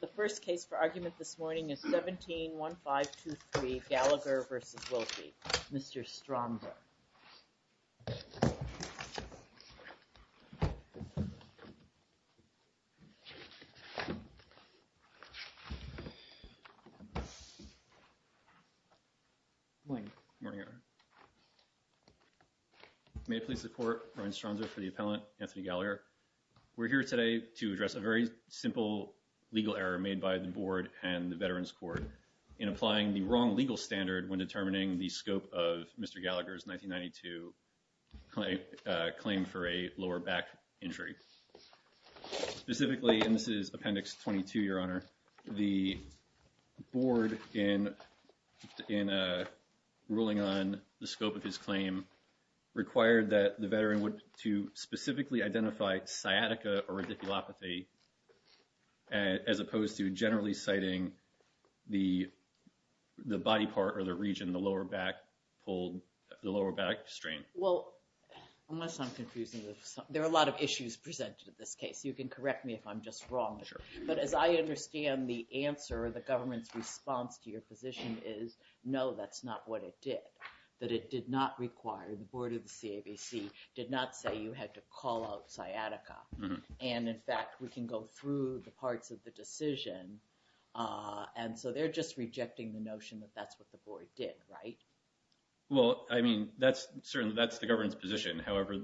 The first case for argument this morning is 17-1523 Gallagher v. Wilkie. Mr. Stromser. May I please report, Ryan Stromser for the appellant, Anthony Gallagher. We're here today to address a very simple legal error made by the board and the Veterans Court in applying the wrong legal standard when determining the scope of Mr. Gallagher's 1992 claim for a lower back injury. Specifically, and this is appendix 22, your honor, the board in ruling on the scope of his claim required that the veteran to specifically identify sciatica or radiculopathy as opposed to generally citing the body part or the region, the lower back pulled, the lower back strain. Well, unless I'm confusing, there are a lot of issues presented in this case. You can correct me if I'm just wrong. But as I understand the answer, the government's response to your position is no, that's not what it did. That it did not require, the board of the CAVC did not say you had to call out sciatica. And in fact, we can go through the parts of the decision. And so they're just rejecting the notion that that's what the board did, right? Well, I mean, that's certainly, that's the government's position. However,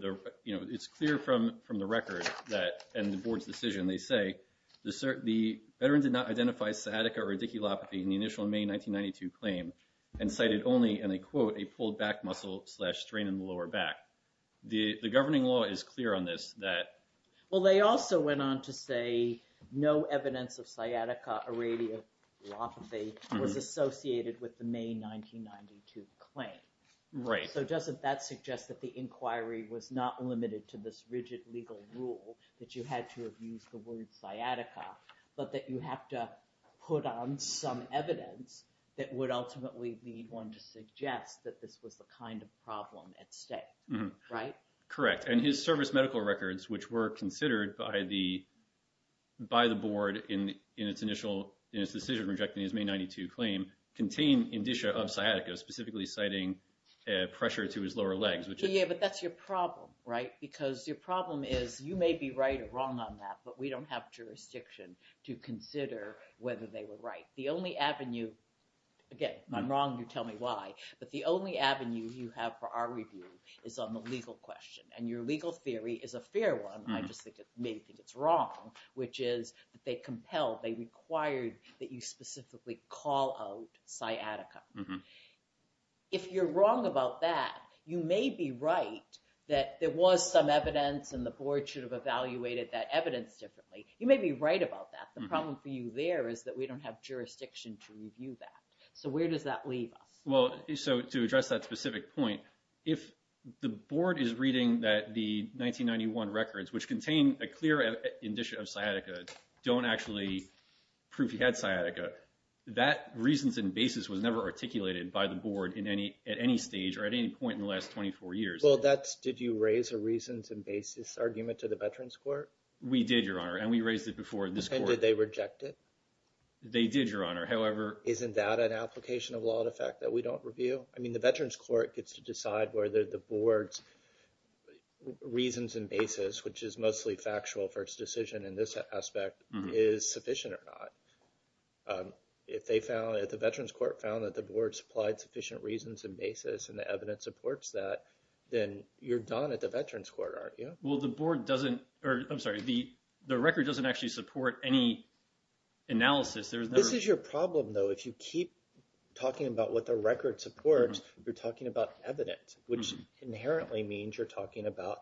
you know, it's clear from the record that, and the board's decision, they say the veteran did not identify sciatica or radiculopathy in the initial May 1992 claim and cited only, and they quote, a pulled back muscle slash strain in the lower back. The governing law is clear on this that... Well, they also went on to say no evidence of sciatica or radiculopathy was associated with the May 1992 claim. Right. So doesn't that suggest that the inquiry was not limited to this rigid legal rule that you had to have used the word sciatica, but that you have to put on some evidence that would ultimately lead one to suggest that this was the kind of problem at stake, right? Correct. And his service medical records, which were considered by the, by the board in its initial, in its decision rejecting his May 92 claim, contain indicia of sciatica, specifically citing pressure to his lower legs, which is... Yeah, but that's your problem, right? Because your problem is you may be right or wrong on that, but we don't have jurisdiction to consider whether they were right. The only avenue, again, if I'm wrong, you tell me why, but the only avenue you have for our review is on the legal question. And your legal theory is a fair one. I just think it's wrong, which is that they compelled, they required that you specifically call out sciatica. If you're wrong about that, you may be right that there was some evidence and the board should have evaluated that evidence differently. You may be right about that. The problem for you there is that we don't have jurisdiction to review that. So where does that leave us? Well, so to address that specific point, if the board is reading that the 1991 records, which contain a clear indicia of sciatica, don't actually prove he had sciatica, that reasons and basis was never articulated by the board in any, at any stage or at any point in the last 24 years. Well, that's, did you raise a reasons and basis argument to the veterans court? We did, Your Honor. And we raised it before this court. Did they reject it? They did, Your Honor. However- Isn't that an application of law in effect that we don't review? I mean, the veterans court gets to decide whether the board's reasons and basis, which is mostly factual for its decision in this aspect, is sufficient or not. If they found, if the veterans court found that the board supplied sufficient reasons and basis and the evidence supports that, then you're done at the veterans court, aren't you? Well, the board doesn't, or I'm sorry, the record doesn't actually support any analysis. This is your problem though. If you keep talking about what the record supports, you're talking about evidence, which inherently means you're talking about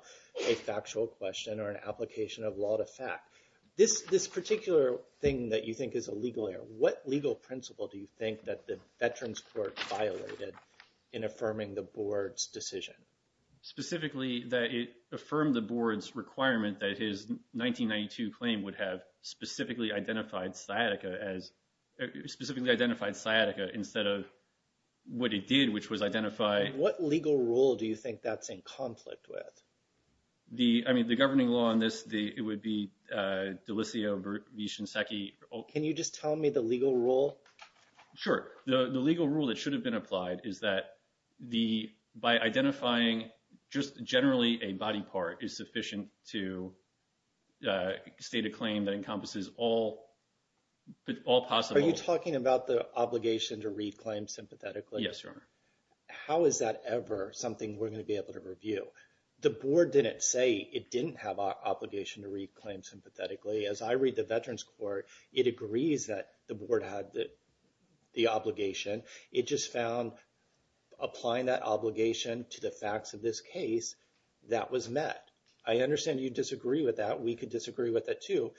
a factual question or an application of law to fact. This particular thing that you think is a legal error, what legal principle do you think that the veterans court violated in affirming the board's decision? Specifically, that it affirmed the board's requirement that his 1992 claim would have specifically identified sciatica as, specifically identified sciatica instead of what it did, which was identify- What legal rule do you think that's in conflict with? The, I mean, the governing law on this, it would be D'Alessio v. Shinseki. Can you just tell me the legal rule? Sure. The legal rule that should have been applied is that the, by identifying just generally a body part is sufficient to state a claim that encompasses all possible- Are you talking about the obligation to read claims sympathetically? Yes, Your Honor. How is that ever something we're going to be able to review? The board didn't say it didn't have an obligation to read claims sympathetically. As I read the veterans court, it agrees that the board had the obligation. It just found applying that obligation to the facts of this case, that was met. I understand you disagree with that. We could disagree with it too,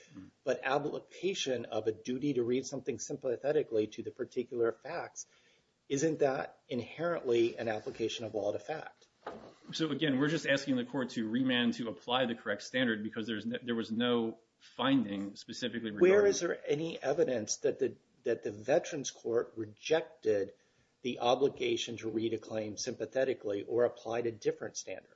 but application of a duty to read something sympathetically to the particular facts, isn't that inherently an application of all the fact? So again, we're just asking the court to remand to apply the correct standard because there was no finding specifically regarding- Or is there any evidence that the veterans court rejected the obligation to read a claim sympathetically or applied a different standard?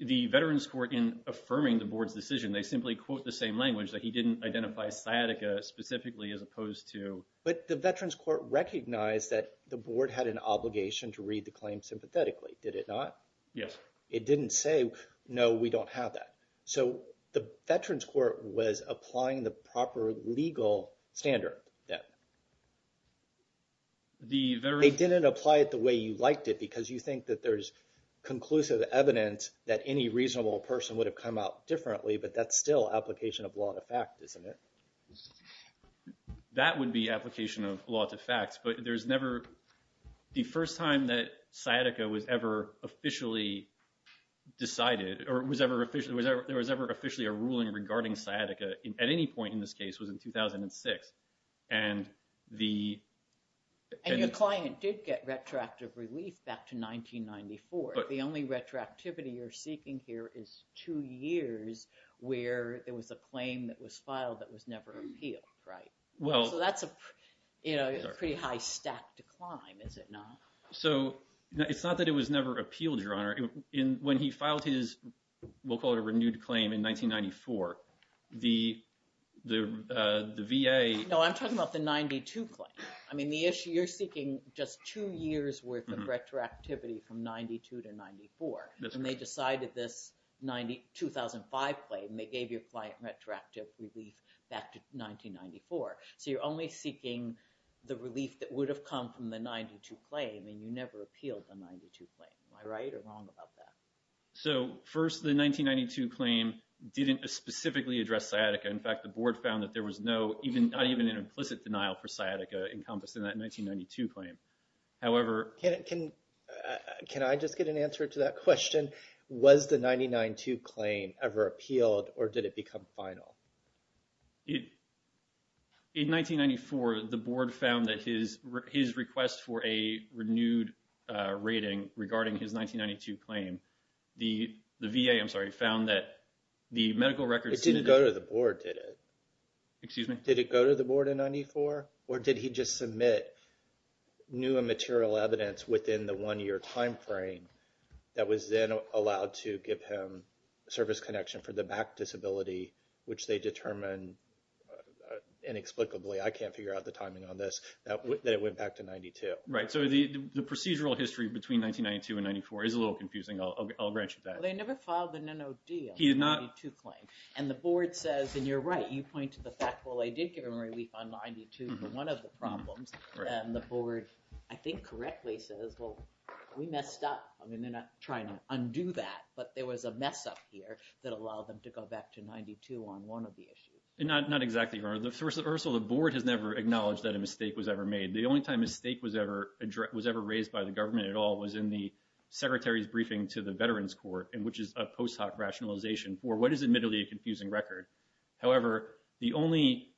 The veterans court, in affirming the board's decision, they simply quote the same language that he didn't identify sciatica specifically as opposed to- But the veterans court recognized that the board had an obligation to read the claim sympathetically. Did it not? Yes. It didn't say, no, we don't have that. So the veterans court was applying the proper legal standard then. The veterans- They didn't apply it the way you liked it because you think that there's conclusive evidence that any reasonable person would have come out differently, but that's still application of law to fact, isn't it? That would be application of law to facts, but there's never... The first time that sciatica was ever officially decided or there was ever officially a ruling regarding sciatica, at any point in this case, was in 2006, and the- And your client did get retroactive relief back to 1994. The only retroactivity you're seeking here is two years where it was a claim that was filed that was never appealed, right? So that's a pretty high stack decline, is it not? So it's not that it was never appealed, Your Honor. When he filed his, we'll call it a renewed claim in 1994, the VA- No, I'm talking about the 92 claim. I mean, the issue you're seeking just two years worth of retroactivity from 92 to 94, and they decided this 2005 claim, and they gave your client retroactive relief back to 1994. So you're only seeking the relief that would have come from the 92 claim, and you never appealed the 92 claim. Am I right or wrong about that? So first, the 1992 claim didn't specifically address sciatica. In fact, the board found that there was not even an implicit denial for sciatica encompassed in that 1992 claim. However- Can I just get an answer to that question? Was the 99-2 claim ever appealed or did it become final? In 1994, the board found that his request for a renewed rating regarding his 1992 claim, the VA, I'm sorry, found that the medical records- It didn't go to the board, did it? Excuse me? Did it go to the board in 94, or did he just submit new and material evidence within the one-year timeframe that was then allowed to give him service connection for the back disability, which they determined inexplicably, I can't figure out the timing on this, that it went back to 92? Right. So the procedural history between 1992 and 94 is a little confusing. I'll grant you that. Well, they never filed an NOD on the 92 claim. And the board says, and you're right, you point to the fact, well, they did give him relief on 92 for one of the problems. And the board, I think correctly, says, well, we messed up. I mean, they're not trying to 92 on one of the issues. Not exactly, Your Honor. First of all, the board has never acknowledged that a mistake was ever made. The only time a mistake was ever raised by the government at all was in the secretary's briefing to the Veterans Court, which is a post hoc rationalization for what is admittedly a confusing record. However, the only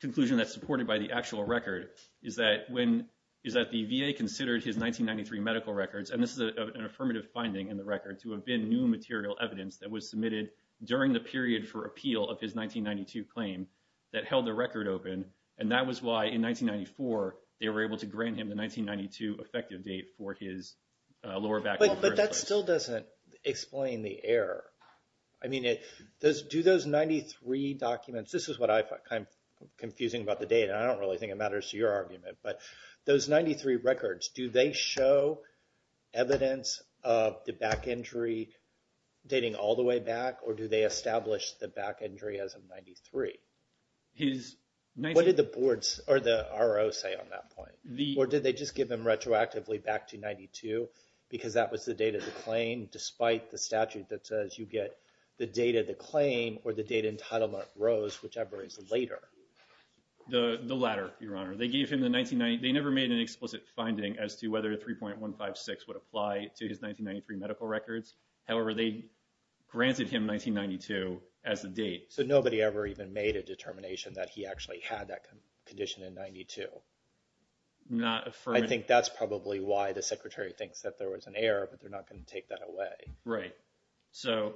conclusion that's supported by the actual record is that the VA considered his 1993 medical records, and this is an affirmative finding in the record, to have been new material evidence that was submitted during the period for appeal of his 1992 claim that held the record open. And that was why, in 1994, they were able to grant him the 1992 effective date for his lower back. But that still doesn't explain the error. I mean, do those 93 documents, this is what I find confusing about the date, and I don't really think it matters to your argument, but those 93 records, do they show evidence of the back injury dating all the way back, or do they establish the back injury as of 93? What did the RO say on that point? Or did they just give him retroactively back to 92, because that was the date of the claim despite the statute that says you get the date of the claim or the date entitlement rose, whichever is later? The latter, Your Honor. They never made an explicit finding as to whether 3.156 would However, they granted him 1992 as the date. So nobody ever even made a determination that he actually had that condition in 92? Not affirming. I think that's probably why the Secretary thinks that there was an error, but they're not going to take that away. Right. So,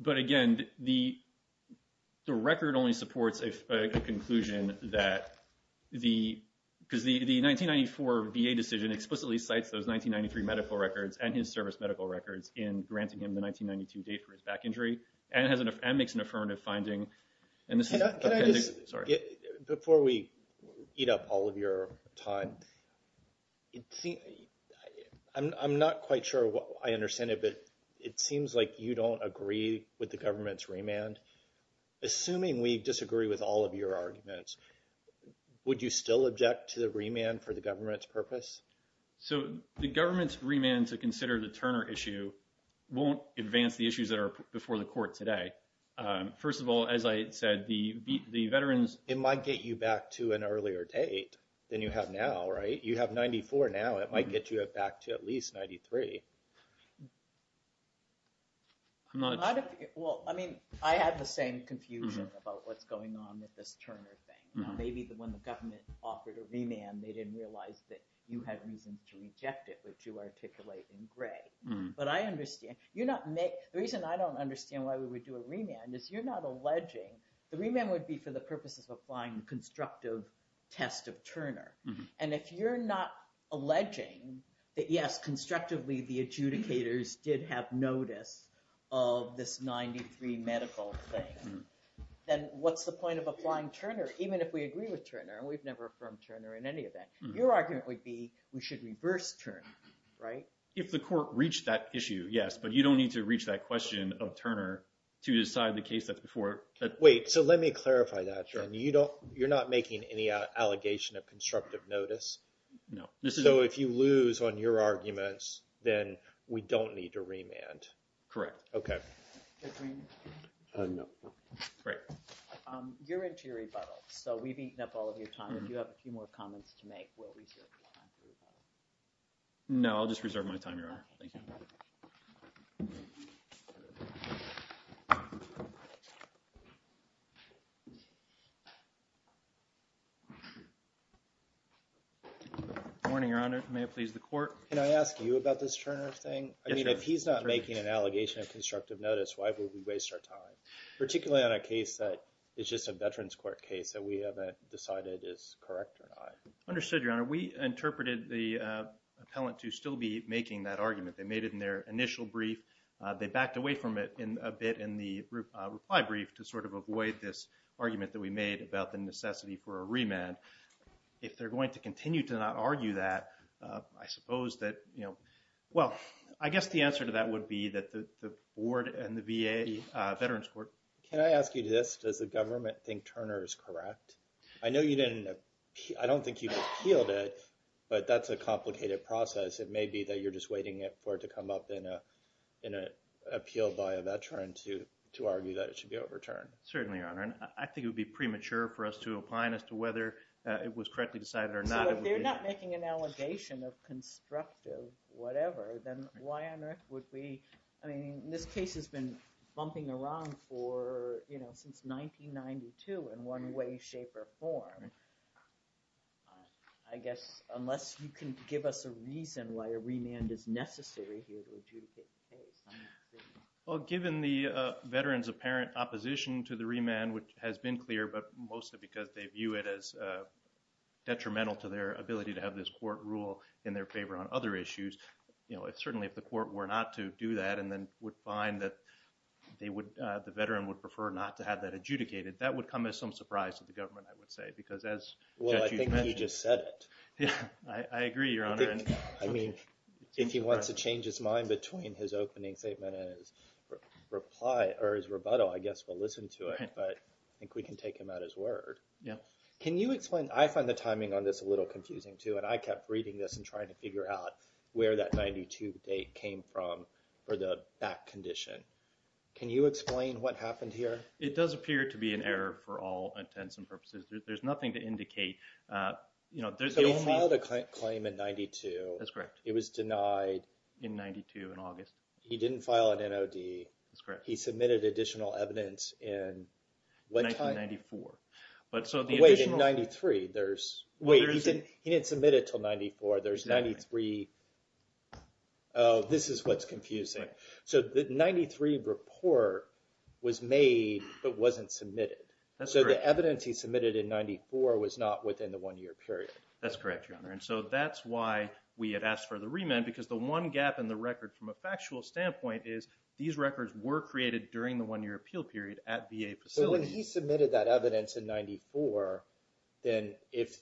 but again, the record only supports a conclusion that the, because the 1994 VA decision explicitly cites those 1993 medical records and his service medical records in granting him the 1992 date for his back injury, and makes an affirmative finding. Can I just, before we eat up all of your time, I'm not quite sure I understand it, but it seems like you don't agree with the government's remand. Assuming we disagree with all of your So the government's remand to consider the Turner issue won't advance the issues that are before the court today. First of all, as I said, the veterans... It might get you back to an earlier date than you have now, right? You have 94 now, it might get you back to at least 93. Well, I mean, I had the same confusion about what's going on with this Turner thing. Maybe when the government offered a remand, they didn't realize that you had reasons to reject it, which you articulate in gray. But I understand, you're not, the reason I don't understand why we would do a remand is you're not alleging the remand would be for the purposes of applying the constructive test of Turner. And if you're not alleging that yes, constructively, the adjudicators did have notice of this 93 medical thing, then what's the point of applying Turner, even if we agree with Turner, and we've never affirmed Turner in any of that. Your argument would be, we should reverse Turner, right? If the court reached that issue, yes, but you don't need to reach that question of Turner to decide the case that's before... Wait, so let me clarify that. You're not making any allegation of constructive notice? No. So if you lose on your arguments, then we don't need to remand? Correct. Okay. No. Great. You're into your rebuttal, so we've eaten up all of your time. If you have a few more comments to make, we'll reserve your time for rebuttal. No, I'll just reserve my time, Your Honor. Thank you. Good morning, Your Honor. May it please the court? Can I ask you about this Turner thing? Yes, sir. If he's not making an allegation of constructive notice, why would we waste our time, particularly on a case that is just a Veterans Court case that we haven't decided is correct or not? Understood, Your Honor. We interpreted the appellant to still be making that argument. They made it in their initial brief. They backed away from it a bit in the reply brief to sort of avoid this argument that we made about the necessity for a remand. If they're going to answer to that would be that the board and the VA Veterans Court. Can I ask you this? Does the government think Turner is correct? I know you didn't... I don't think you appealed it, but that's a complicated process. It may be that you're just waiting for it to come up in an appeal by a veteran to argue that it should be overturned. Certainly, Your Honor. I think it would be premature for us to apply as to whether it was correctly decided or not. If they're not making an allegation of constructive whatever, then why on earth would we... I mean, this case has been bumping around for, you know, since 1992 in one way, shape, or form. I guess unless you can give us a reason why a remand is necessary here to adjudicate the case. Well, given the veterans apparent opposition to the remand, which has been clear, but mostly because they view it as detrimental to their ability to have this court rule in their favor on other issues, you know, certainly if the court were not to do that and then would find that the veteran would prefer not to have that adjudicated, that would come as some surprise to the government, I would say, because as... Well, I think he just said it. I agree, Your Honor. I mean, if he wants to change his mind between his opening statement and his rebuttal, I guess we'll listen to it, but I think we can take him at his word. Yeah. Can you explain... I find the timing on this a little confusing too, and I kept reading this and trying to figure out where that 92 date came from for the back condition. Can you explain what happened here? It does appear to be an error for all intents and purposes. There's nothing to indicate, you know, there's... So he filed a claim in 92. That's correct. It was denied... In 92 in August. He didn't file an NOD. That's correct. He submitted additional evidence in what time? 1994. But so the original... Wait, in 93, there's... Wait, he didn't submit it until 94. There's 93... Oh, this is what's confusing. So the 93 report was made, but wasn't submitted. That's correct. So the evidence he submitted in 94 was not within the one-year period. That's correct, Your Honor. And so that's why we had asked for the remand, because the one gap in the record from a factual standpoint is these records were created during the one-year appeal period at VA facilities. But when he submitted that evidence in 94, then if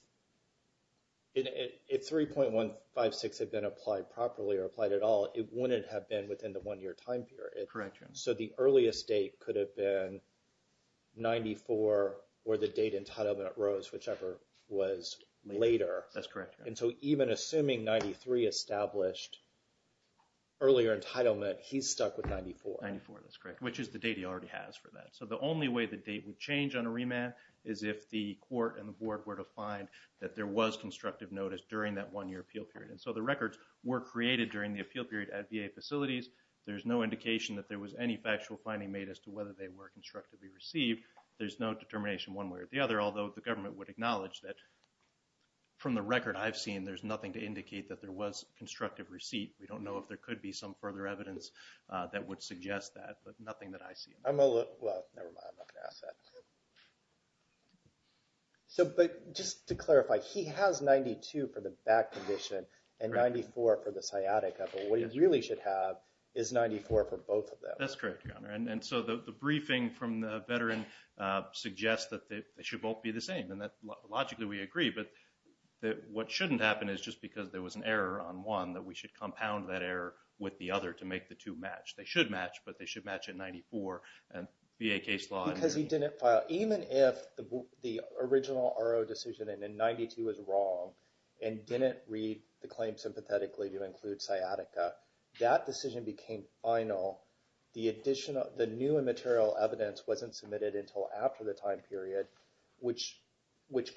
3.156 had been applied properly or applied at all, it wouldn't have been within the one-year time period. Correct, Your Honor. So the earliest date could have been 94 or the date entitlement arose, whichever was later. That's correct, Your Honor. And so even assuming 93 established earlier entitlement, he's stuck with 94. 94, that's correct, which is the date he already has for that. So the only way the date would change on a remand is if the court and the board were to find that there was constructive notice during that one-year appeal period. And so the records were created during the appeal period at VA facilities. There's no indication that there was any factual finding made as to whether they were constructively received. There's no determination one way or the other, although the government would acknowledge that from the record I've seen, there's nothing to indicate that there was constructive receipt. We don't know if there could be some further evidence that would suggest that, but nothing that I see. I'm going to look. Well, never mind. I'm not going to ask that. But just to clarify, he has 92 for the back condition and 94 for the sciatica. But what he really should have is 94 for both of them. That's correct, Your Honor. And so the briefing from the veteran suggests that they should both be the same. Logically, we agree. But what shouldn't happen is just because there was an error on one that we should compound that error with the other to make the two match. They should match, but they should match at 94 via case law. Because he didn't file. Even if the original RO decision in 92 was wrong and didn't read the claim sympathetically to include sciatica, that decision became final. The new and material evidence wasn't submitted until after the time period, which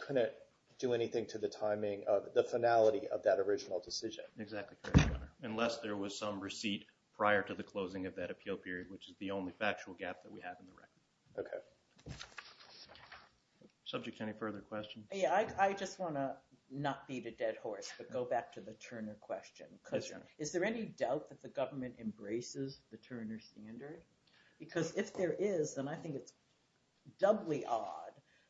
couldn't do anything to the timing of the finality of that original decision. Exactly correct, Your Honor. Unless there was some receipt prior to the closing of that appeal period, which is the only factual gap that we have in the record. Okay. Subject to any further questions? Yeah, I just want to not beat a dead horse, but go back to the Turner question. Because is there any doubt that the government embraces the Turner standard? Because if there is, then I think it's doubly odd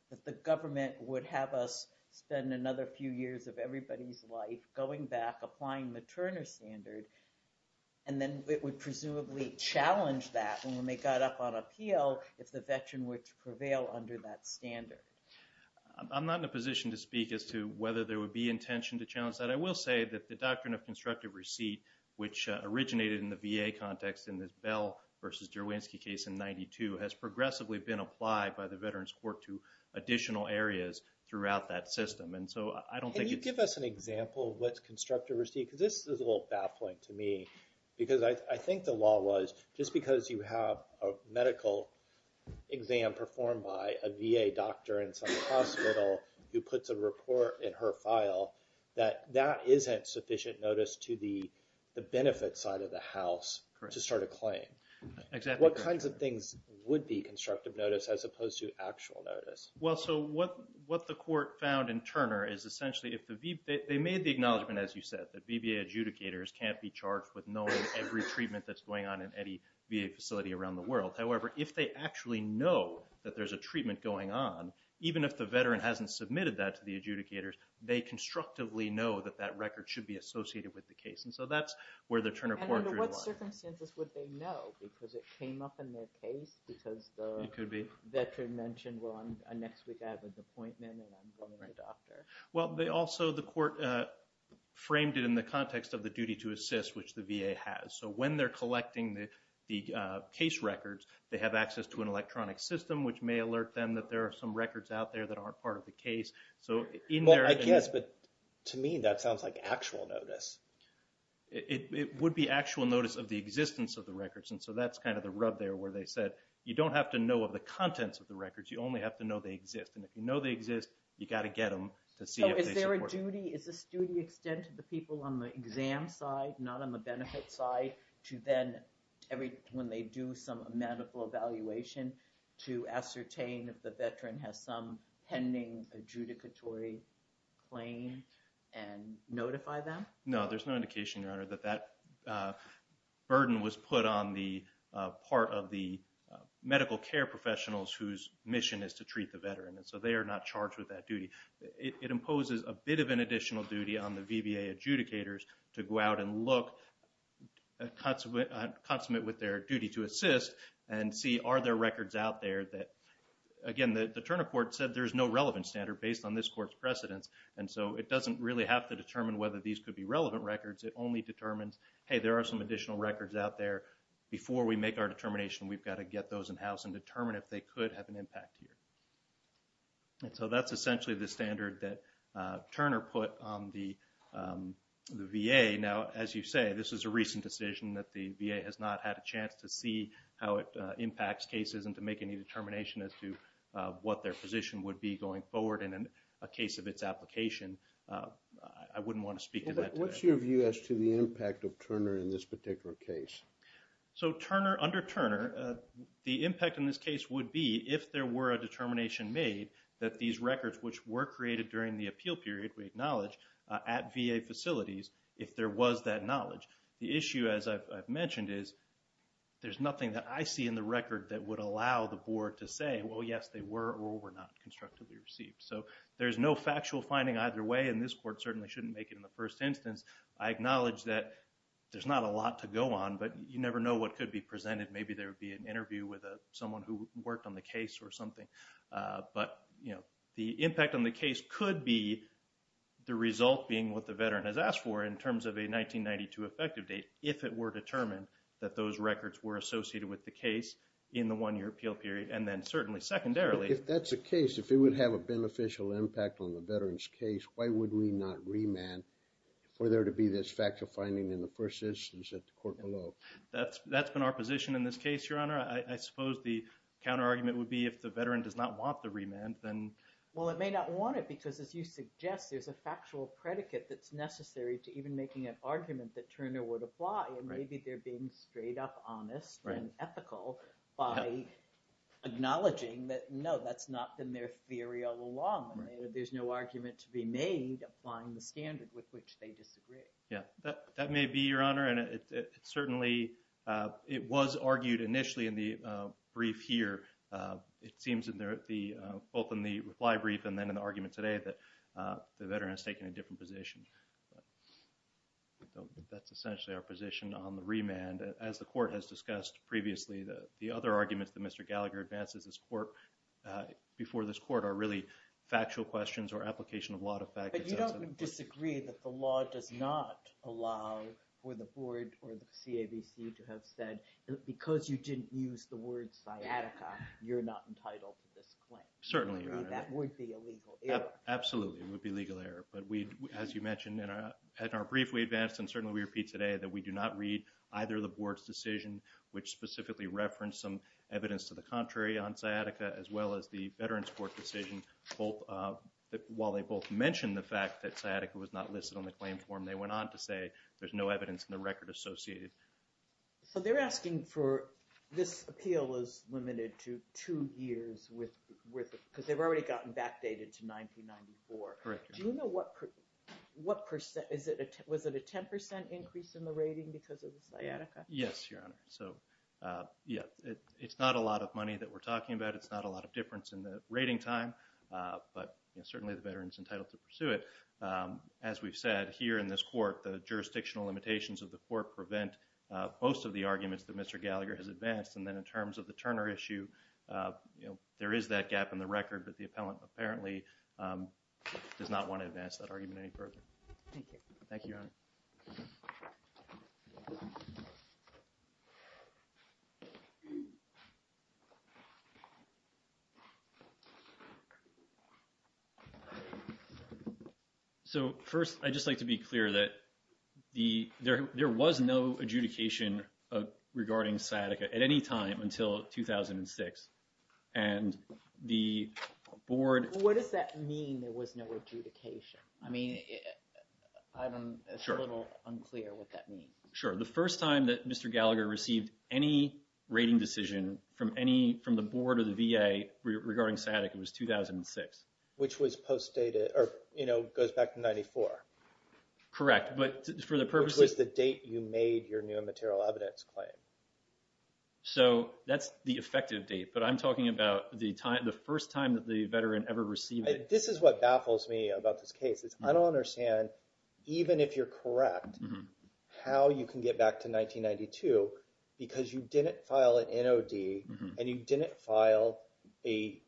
that the government would have us spend another few years of everybody's life going back, applying the Turner standard, and then it would presumably challenge that when they got up on appeal if the veteran were to prevail under that standard. I'm not in a position to speak as to whether there would be intention to challenge that. I will say that the doctrine of constructive receipt, which originated in the VA context in this Bell versus Derwinski case in 92, has progressively been applied by the Veterans Court to additional areas throughout that system. And so I don't think it's- Can you give us an example of what's constructive receipt? Because this is a little baffling to me. Because I think the law was, just because you have a medical exam performed by a VA doctor in some hospital who puts a report in her file, that that isn't sufficient notice to the benefit side of the house to start a claim. Correct. Exactly. What kinds of things would be constructive notice as opposed to actual notice? Well, so what the court found in Turner is essentially if the- they made the acknowledgement, as you said, that VBA adjudicators can't be charged with knowing every treatment that's going on in any VA facility around the world. However, if they actually know that there's a treatment going on, even if the veteran hasn't submitted that to the adjudicators, they constructively know that that record should be associated with the case. And so that's where the Turner Court- And under what circumstances would they know? Because it came up in their case because the- It could be. Veteran mentioned, well, next week I have an appointment and I'm going to the doctor. Well, they also- the court framed it in the context of the duty to assist, which the VA has. So when they're collecting the case records, they have access to an electronic system, which may alert them that there are some records out there that aren't part of the case. So in their- Well, I guess, but to me, that sounds like actual notice. It would be actual notice of the existence of the records. And so that's kind of the rub there where they said, you don't have to know of the contents of the records. You only have to know they exist. And if you know they exist, you got to get them to see if they support- So is there a duty? Is this duty extended to the people on the exam side, not on the benefit side, to then every- when they do some medical evaluation, to ascertain if the veteran has some pending adjudicatory claim and notify them? No, there's no indication, Your Honor, that that burden was put on the part of the medical care professionals whose mission is to treat the veteran. And so they are not charged with that duty. It imposes a bit of an additional duty on the VBA adjudicators to go out and look, consummate with their duty to assist, and see are there records out there that- again, the Turner Court said there's no relevant standard based on this court's precedence. And so it doesn't really have to determine whether these could be relevant records. It only determines, hey, there are some additional records out there. Before we make our determination, we've got to get those in-house and determine if they could have an impact here. And so that's essentially the standard that Turner put on the VA. Now, as you say, this is a recent decision that the VA has not had a chance to see how it impacts cases and to make any determination as to what their position would be going forward in a case of its application. I wouldn't want to speak to that today. What's your view as to the impact of Turner in this particular case? So Turner, under Turner, the impact in this case would be if there were a determination made that these records which were created during the appeal period, we acknowledge, at VA facilities, if there was that knowledge. The issue, as I've mentioned, is there's nothing that I see in the record that would allow the were not constructively received. So there's no factual finding either way. And this court certainly shouldn't make it in the first instance. I acknowledge that there's not a lot to go on. But you never know what could be presented. Maybe there would be an interview with someone who worked on the case or something. But the impact on the case could be the result being what the veteran has asked for in terms of a 1992 effective date if it were determined that those records were associated with the case in the one-year appeal period. And then certainly secondarily... If that's the case, if it would have a beneficial impact on the veteran's case, why would we not remand for there to be this factual finding in the first instance at the court below? That's been our position in this case, Your Honor. I suppose the counter argument would be if the veteran does not want the remand, then... Well, it may not want it because as you suggest, there's a factual predicate that's necessary to even making an argument that Turner would apply. And maybe they're being straight up honest and ethical by acknowledging that, no, that's not been their theory all along. There's no argument to be made applying the standard with which they disagree. Yeah. That may be, Your Honor. And it certainly... It was argued initially in the brief here. It seems in both in the reply brief and then in the argument today that the veteran has taken a different position. But that's essentially our position on the remand. As the court has discussed previously, the other arguments that Mr. Gallagher advances before this court are really factual questions or application of lot of factors. But you don't disagree that the law does not allow for the board or the CAVC to have said, because you didn't use the word sciatica, you're not entitled to this claim. Certainly, Your Honor. That would be a legal error. Absolutely, it would be a legal error. But we, as you mentioned in our brief, we advanced and certainly we repeat today that we do not read either of the board's decision, which specifically referenced some evidence to the contrary on sciatica, as well as the veterans court decision. While they both mentioned the fact that sciatica was not listed on the claim form, they went on to say there's no evidence in the record associated. So they're asking for... This appeal is limited to two years with... Because they've already gotten backdated to 1994. Correct, Your Honor. Do you know what percent... Was it a 10% increase in the rating because of the sciatica? Yes, Your Honor. So yeah, it's not a lot of money that we're talking about. It's not a lot of difference in the rating time. But certainly, the veteran's entitled to pursue it. As we've said here in this court, the jurisdictional limitations of the court prevent most of the arguments that Mr. Gallagher has advanced. And then in terms of the Turner issue, there is that gap in the record that the appellant apparently does not want to advance that argument any further. Thank you. Thank you, Your Honor. So first, I'd just like to be clear that there was no adjudication regarding sciatica at any time until 2006. And the board... What does that mean, there was no adjudication? I mean, I'm a little unclear what that means. Sure. The first time that Mr. Gallagher received any rating decision from any... From the board or the VA regarding sciatica was 2006. Which was postdated or goes back to 94. Correct. But for the purposes... Which was the date you made your new immaterial evidence claim. So that's the effective date. I'm talking about the first time that the veteran ever received it. This is what baffles me about this case. It's I don't understand, even if you're correct, how you can get back to 1992 because you didn't file an NOD and you didn't file a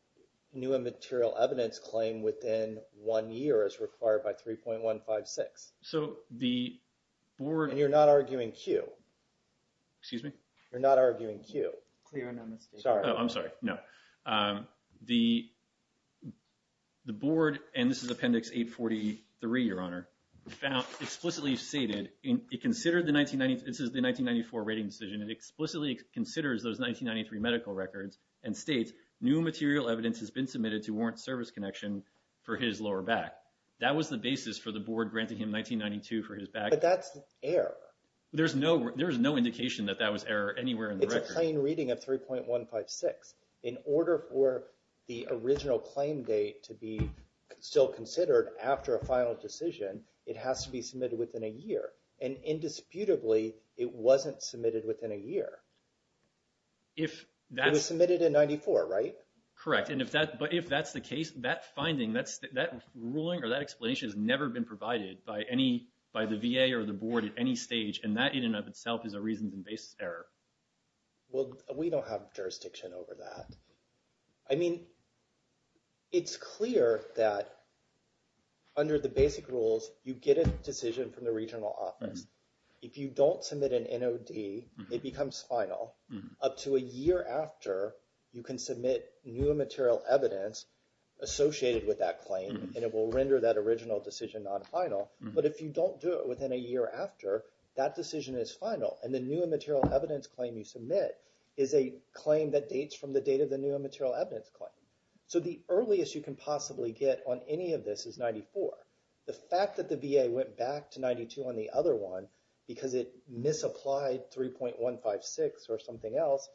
new immaterial evidence claim within one year as required by 3.156. So the board... And you're not arguing Q. Excuse me? You're not arguing Q. Clear on that mistake. Sorry. I'm sorry. No. The board, and this is Appendix 843, Your Honor, found explicitly stated it considered the 1990... This is the 1994 rating decision. It explicitly considers those 1993 medical records and states new material evidence has been submitted to warrant service connection for his lower back. That was the basis for the board granting him 1992 for his back. There's no indication that that was error anywhere in the record. It's a plain reading of 3.156. In order for the original claim date to be still considered after a final decision, it has to be submitted within a year. And indisputably, it wasn't submitted within a year. It was submitted in 94, right? Correct. And if that's the case, that finding, that ruling or that explanation has never been provided by the VA or the board at any stage. And that in and of itself is a reasons and basis error. Well, we don't have jurisdiction over that. I mean, it's clear that under the basic rules, you get a decision from the regional office. If you don't submit an NOD, it becomes final. Up to a year after, you can submit new material evidence associated with that claim, and it will render that original decision non-final. But if you don't do it within a year after, that decision is final. And the new material evidence claim you submit is a claim that dates from the date of the new material evidence claim. So the earliest you can possibly get on any of this is 94. The fact that the VA went back to 92 on the other one because it misapplied 3.156 or something else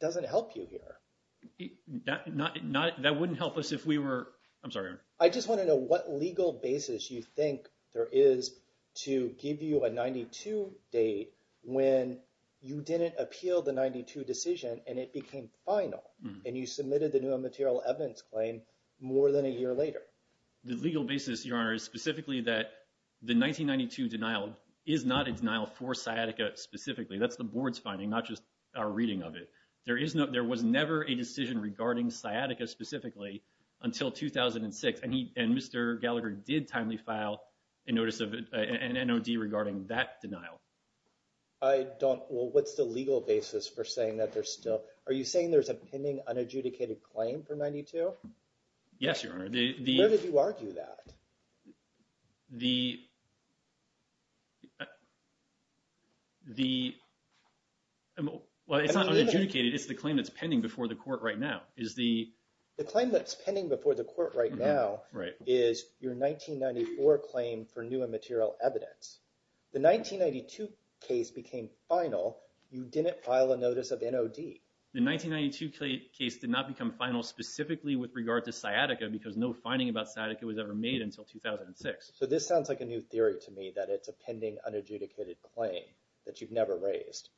doesn't help you here. That wouldn't help us if we were... I'm sorry, Aaron. I just want to know what legal basis you think there is to give you a 92 date when you didn't appeal the 92 decision and it became final and you submitted the new material evidence claim more than a year later. The legal basis, Your Honor, is specifically that the 1992 denial is not a denial for sciatica specifically. That's the board's finding, not just our reading of it. There was never a decision regarding sciatica specifically until 2006. And Mr. Gallagher did timely file a notice of an NOD regarding that denial. I don't... Well, what's the legal basis for saying that there's still... Are you saying there's a pending unadjudicated claim for 92? Yes, Your Honor. Where did you argue that? The... Well, it's not unadjudicated. It's the claim that's pending before the court right now is the... The claim that's pending before the court right now is your 1994 claim for new and material evidence. The 1992 case became final. You didn't file a notice of NOD. The 1992 case did not become final specifically with regard to sciatica because no finding about sciatica was ever made until 2006. So this sounds like a new theory to me that it's a pending unadjudicated claim that you've never raised.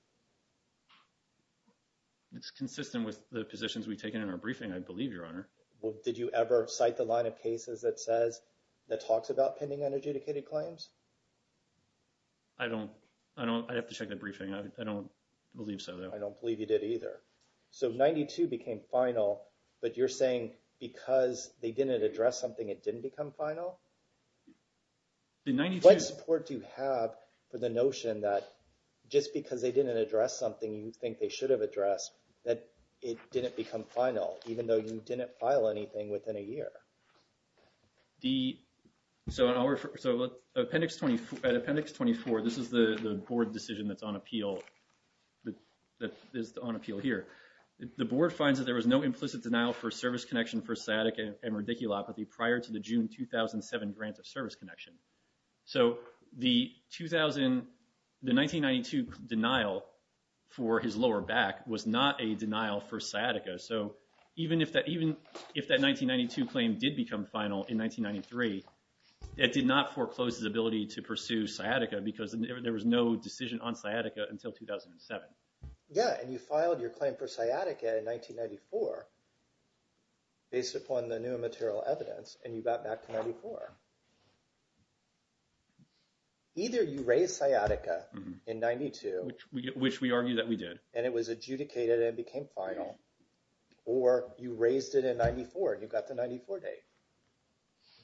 It's consistent with the positions we've taken in our briefing, I believe, Your Honor. Well, did you ever cite the line of cases that says... That talks about pending unadjudicated claims? I don't... I don't... I'd have to check the briefing. I don't believe so, though. I don't believe you did either. So 92 became final, but you're saying because they didn't address something, it didn't become final? The 92... What support do you have for the notion that just because they didn't address something you think they should have addressed, that it didn't become final, even though you didn't file anything within a year? The... So I'll refer... So Appendix 24, this is the board decision that's on appeal, that is on appeal here. The board finds that there was no implicit denial for service connection for sciatica and radiculopathy prior to the June 2007 grant of service connection. So the 2000... The 1992 denial for his lower back was not a denial for sciatica. So even if that... Even if that 1992 claim did become final in 1993, it did not foreclose his ability to pursue sciatica because there was no decision on sciatica until 2007. Yeah, and you filed your claim for sciatica in 1994 based upon the new material evidence and you got back to 94. Either you raised sciatica in 92... Which we argue that we did. And it was adjudicated and it became final, or you raised it in 94 and you got the 94 date.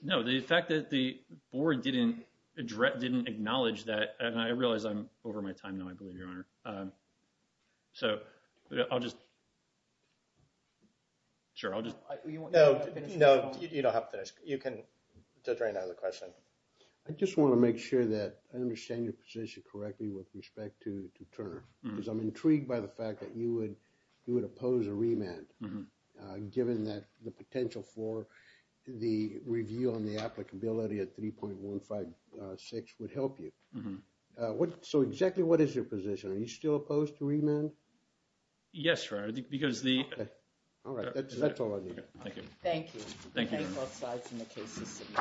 No, the fact that the board didn't acknowledge that, and I realize I'm over my time now, believe me, Your Honor. So I'll just... Sure, I'll just... No, you don't have to finish. You can just drain out of the question. I just want to make sure that I understand your position correctly with respect to Turner, because I'm intrigued by the fact that you would oppose a remand, given that the potential for the review on the applicability at 3.156 would help you. So exactly what is your position? Are you still opposed to remand? Yes, Your Honor, because the... All right, that's all I need. Thank you. Thank you, Your Honor.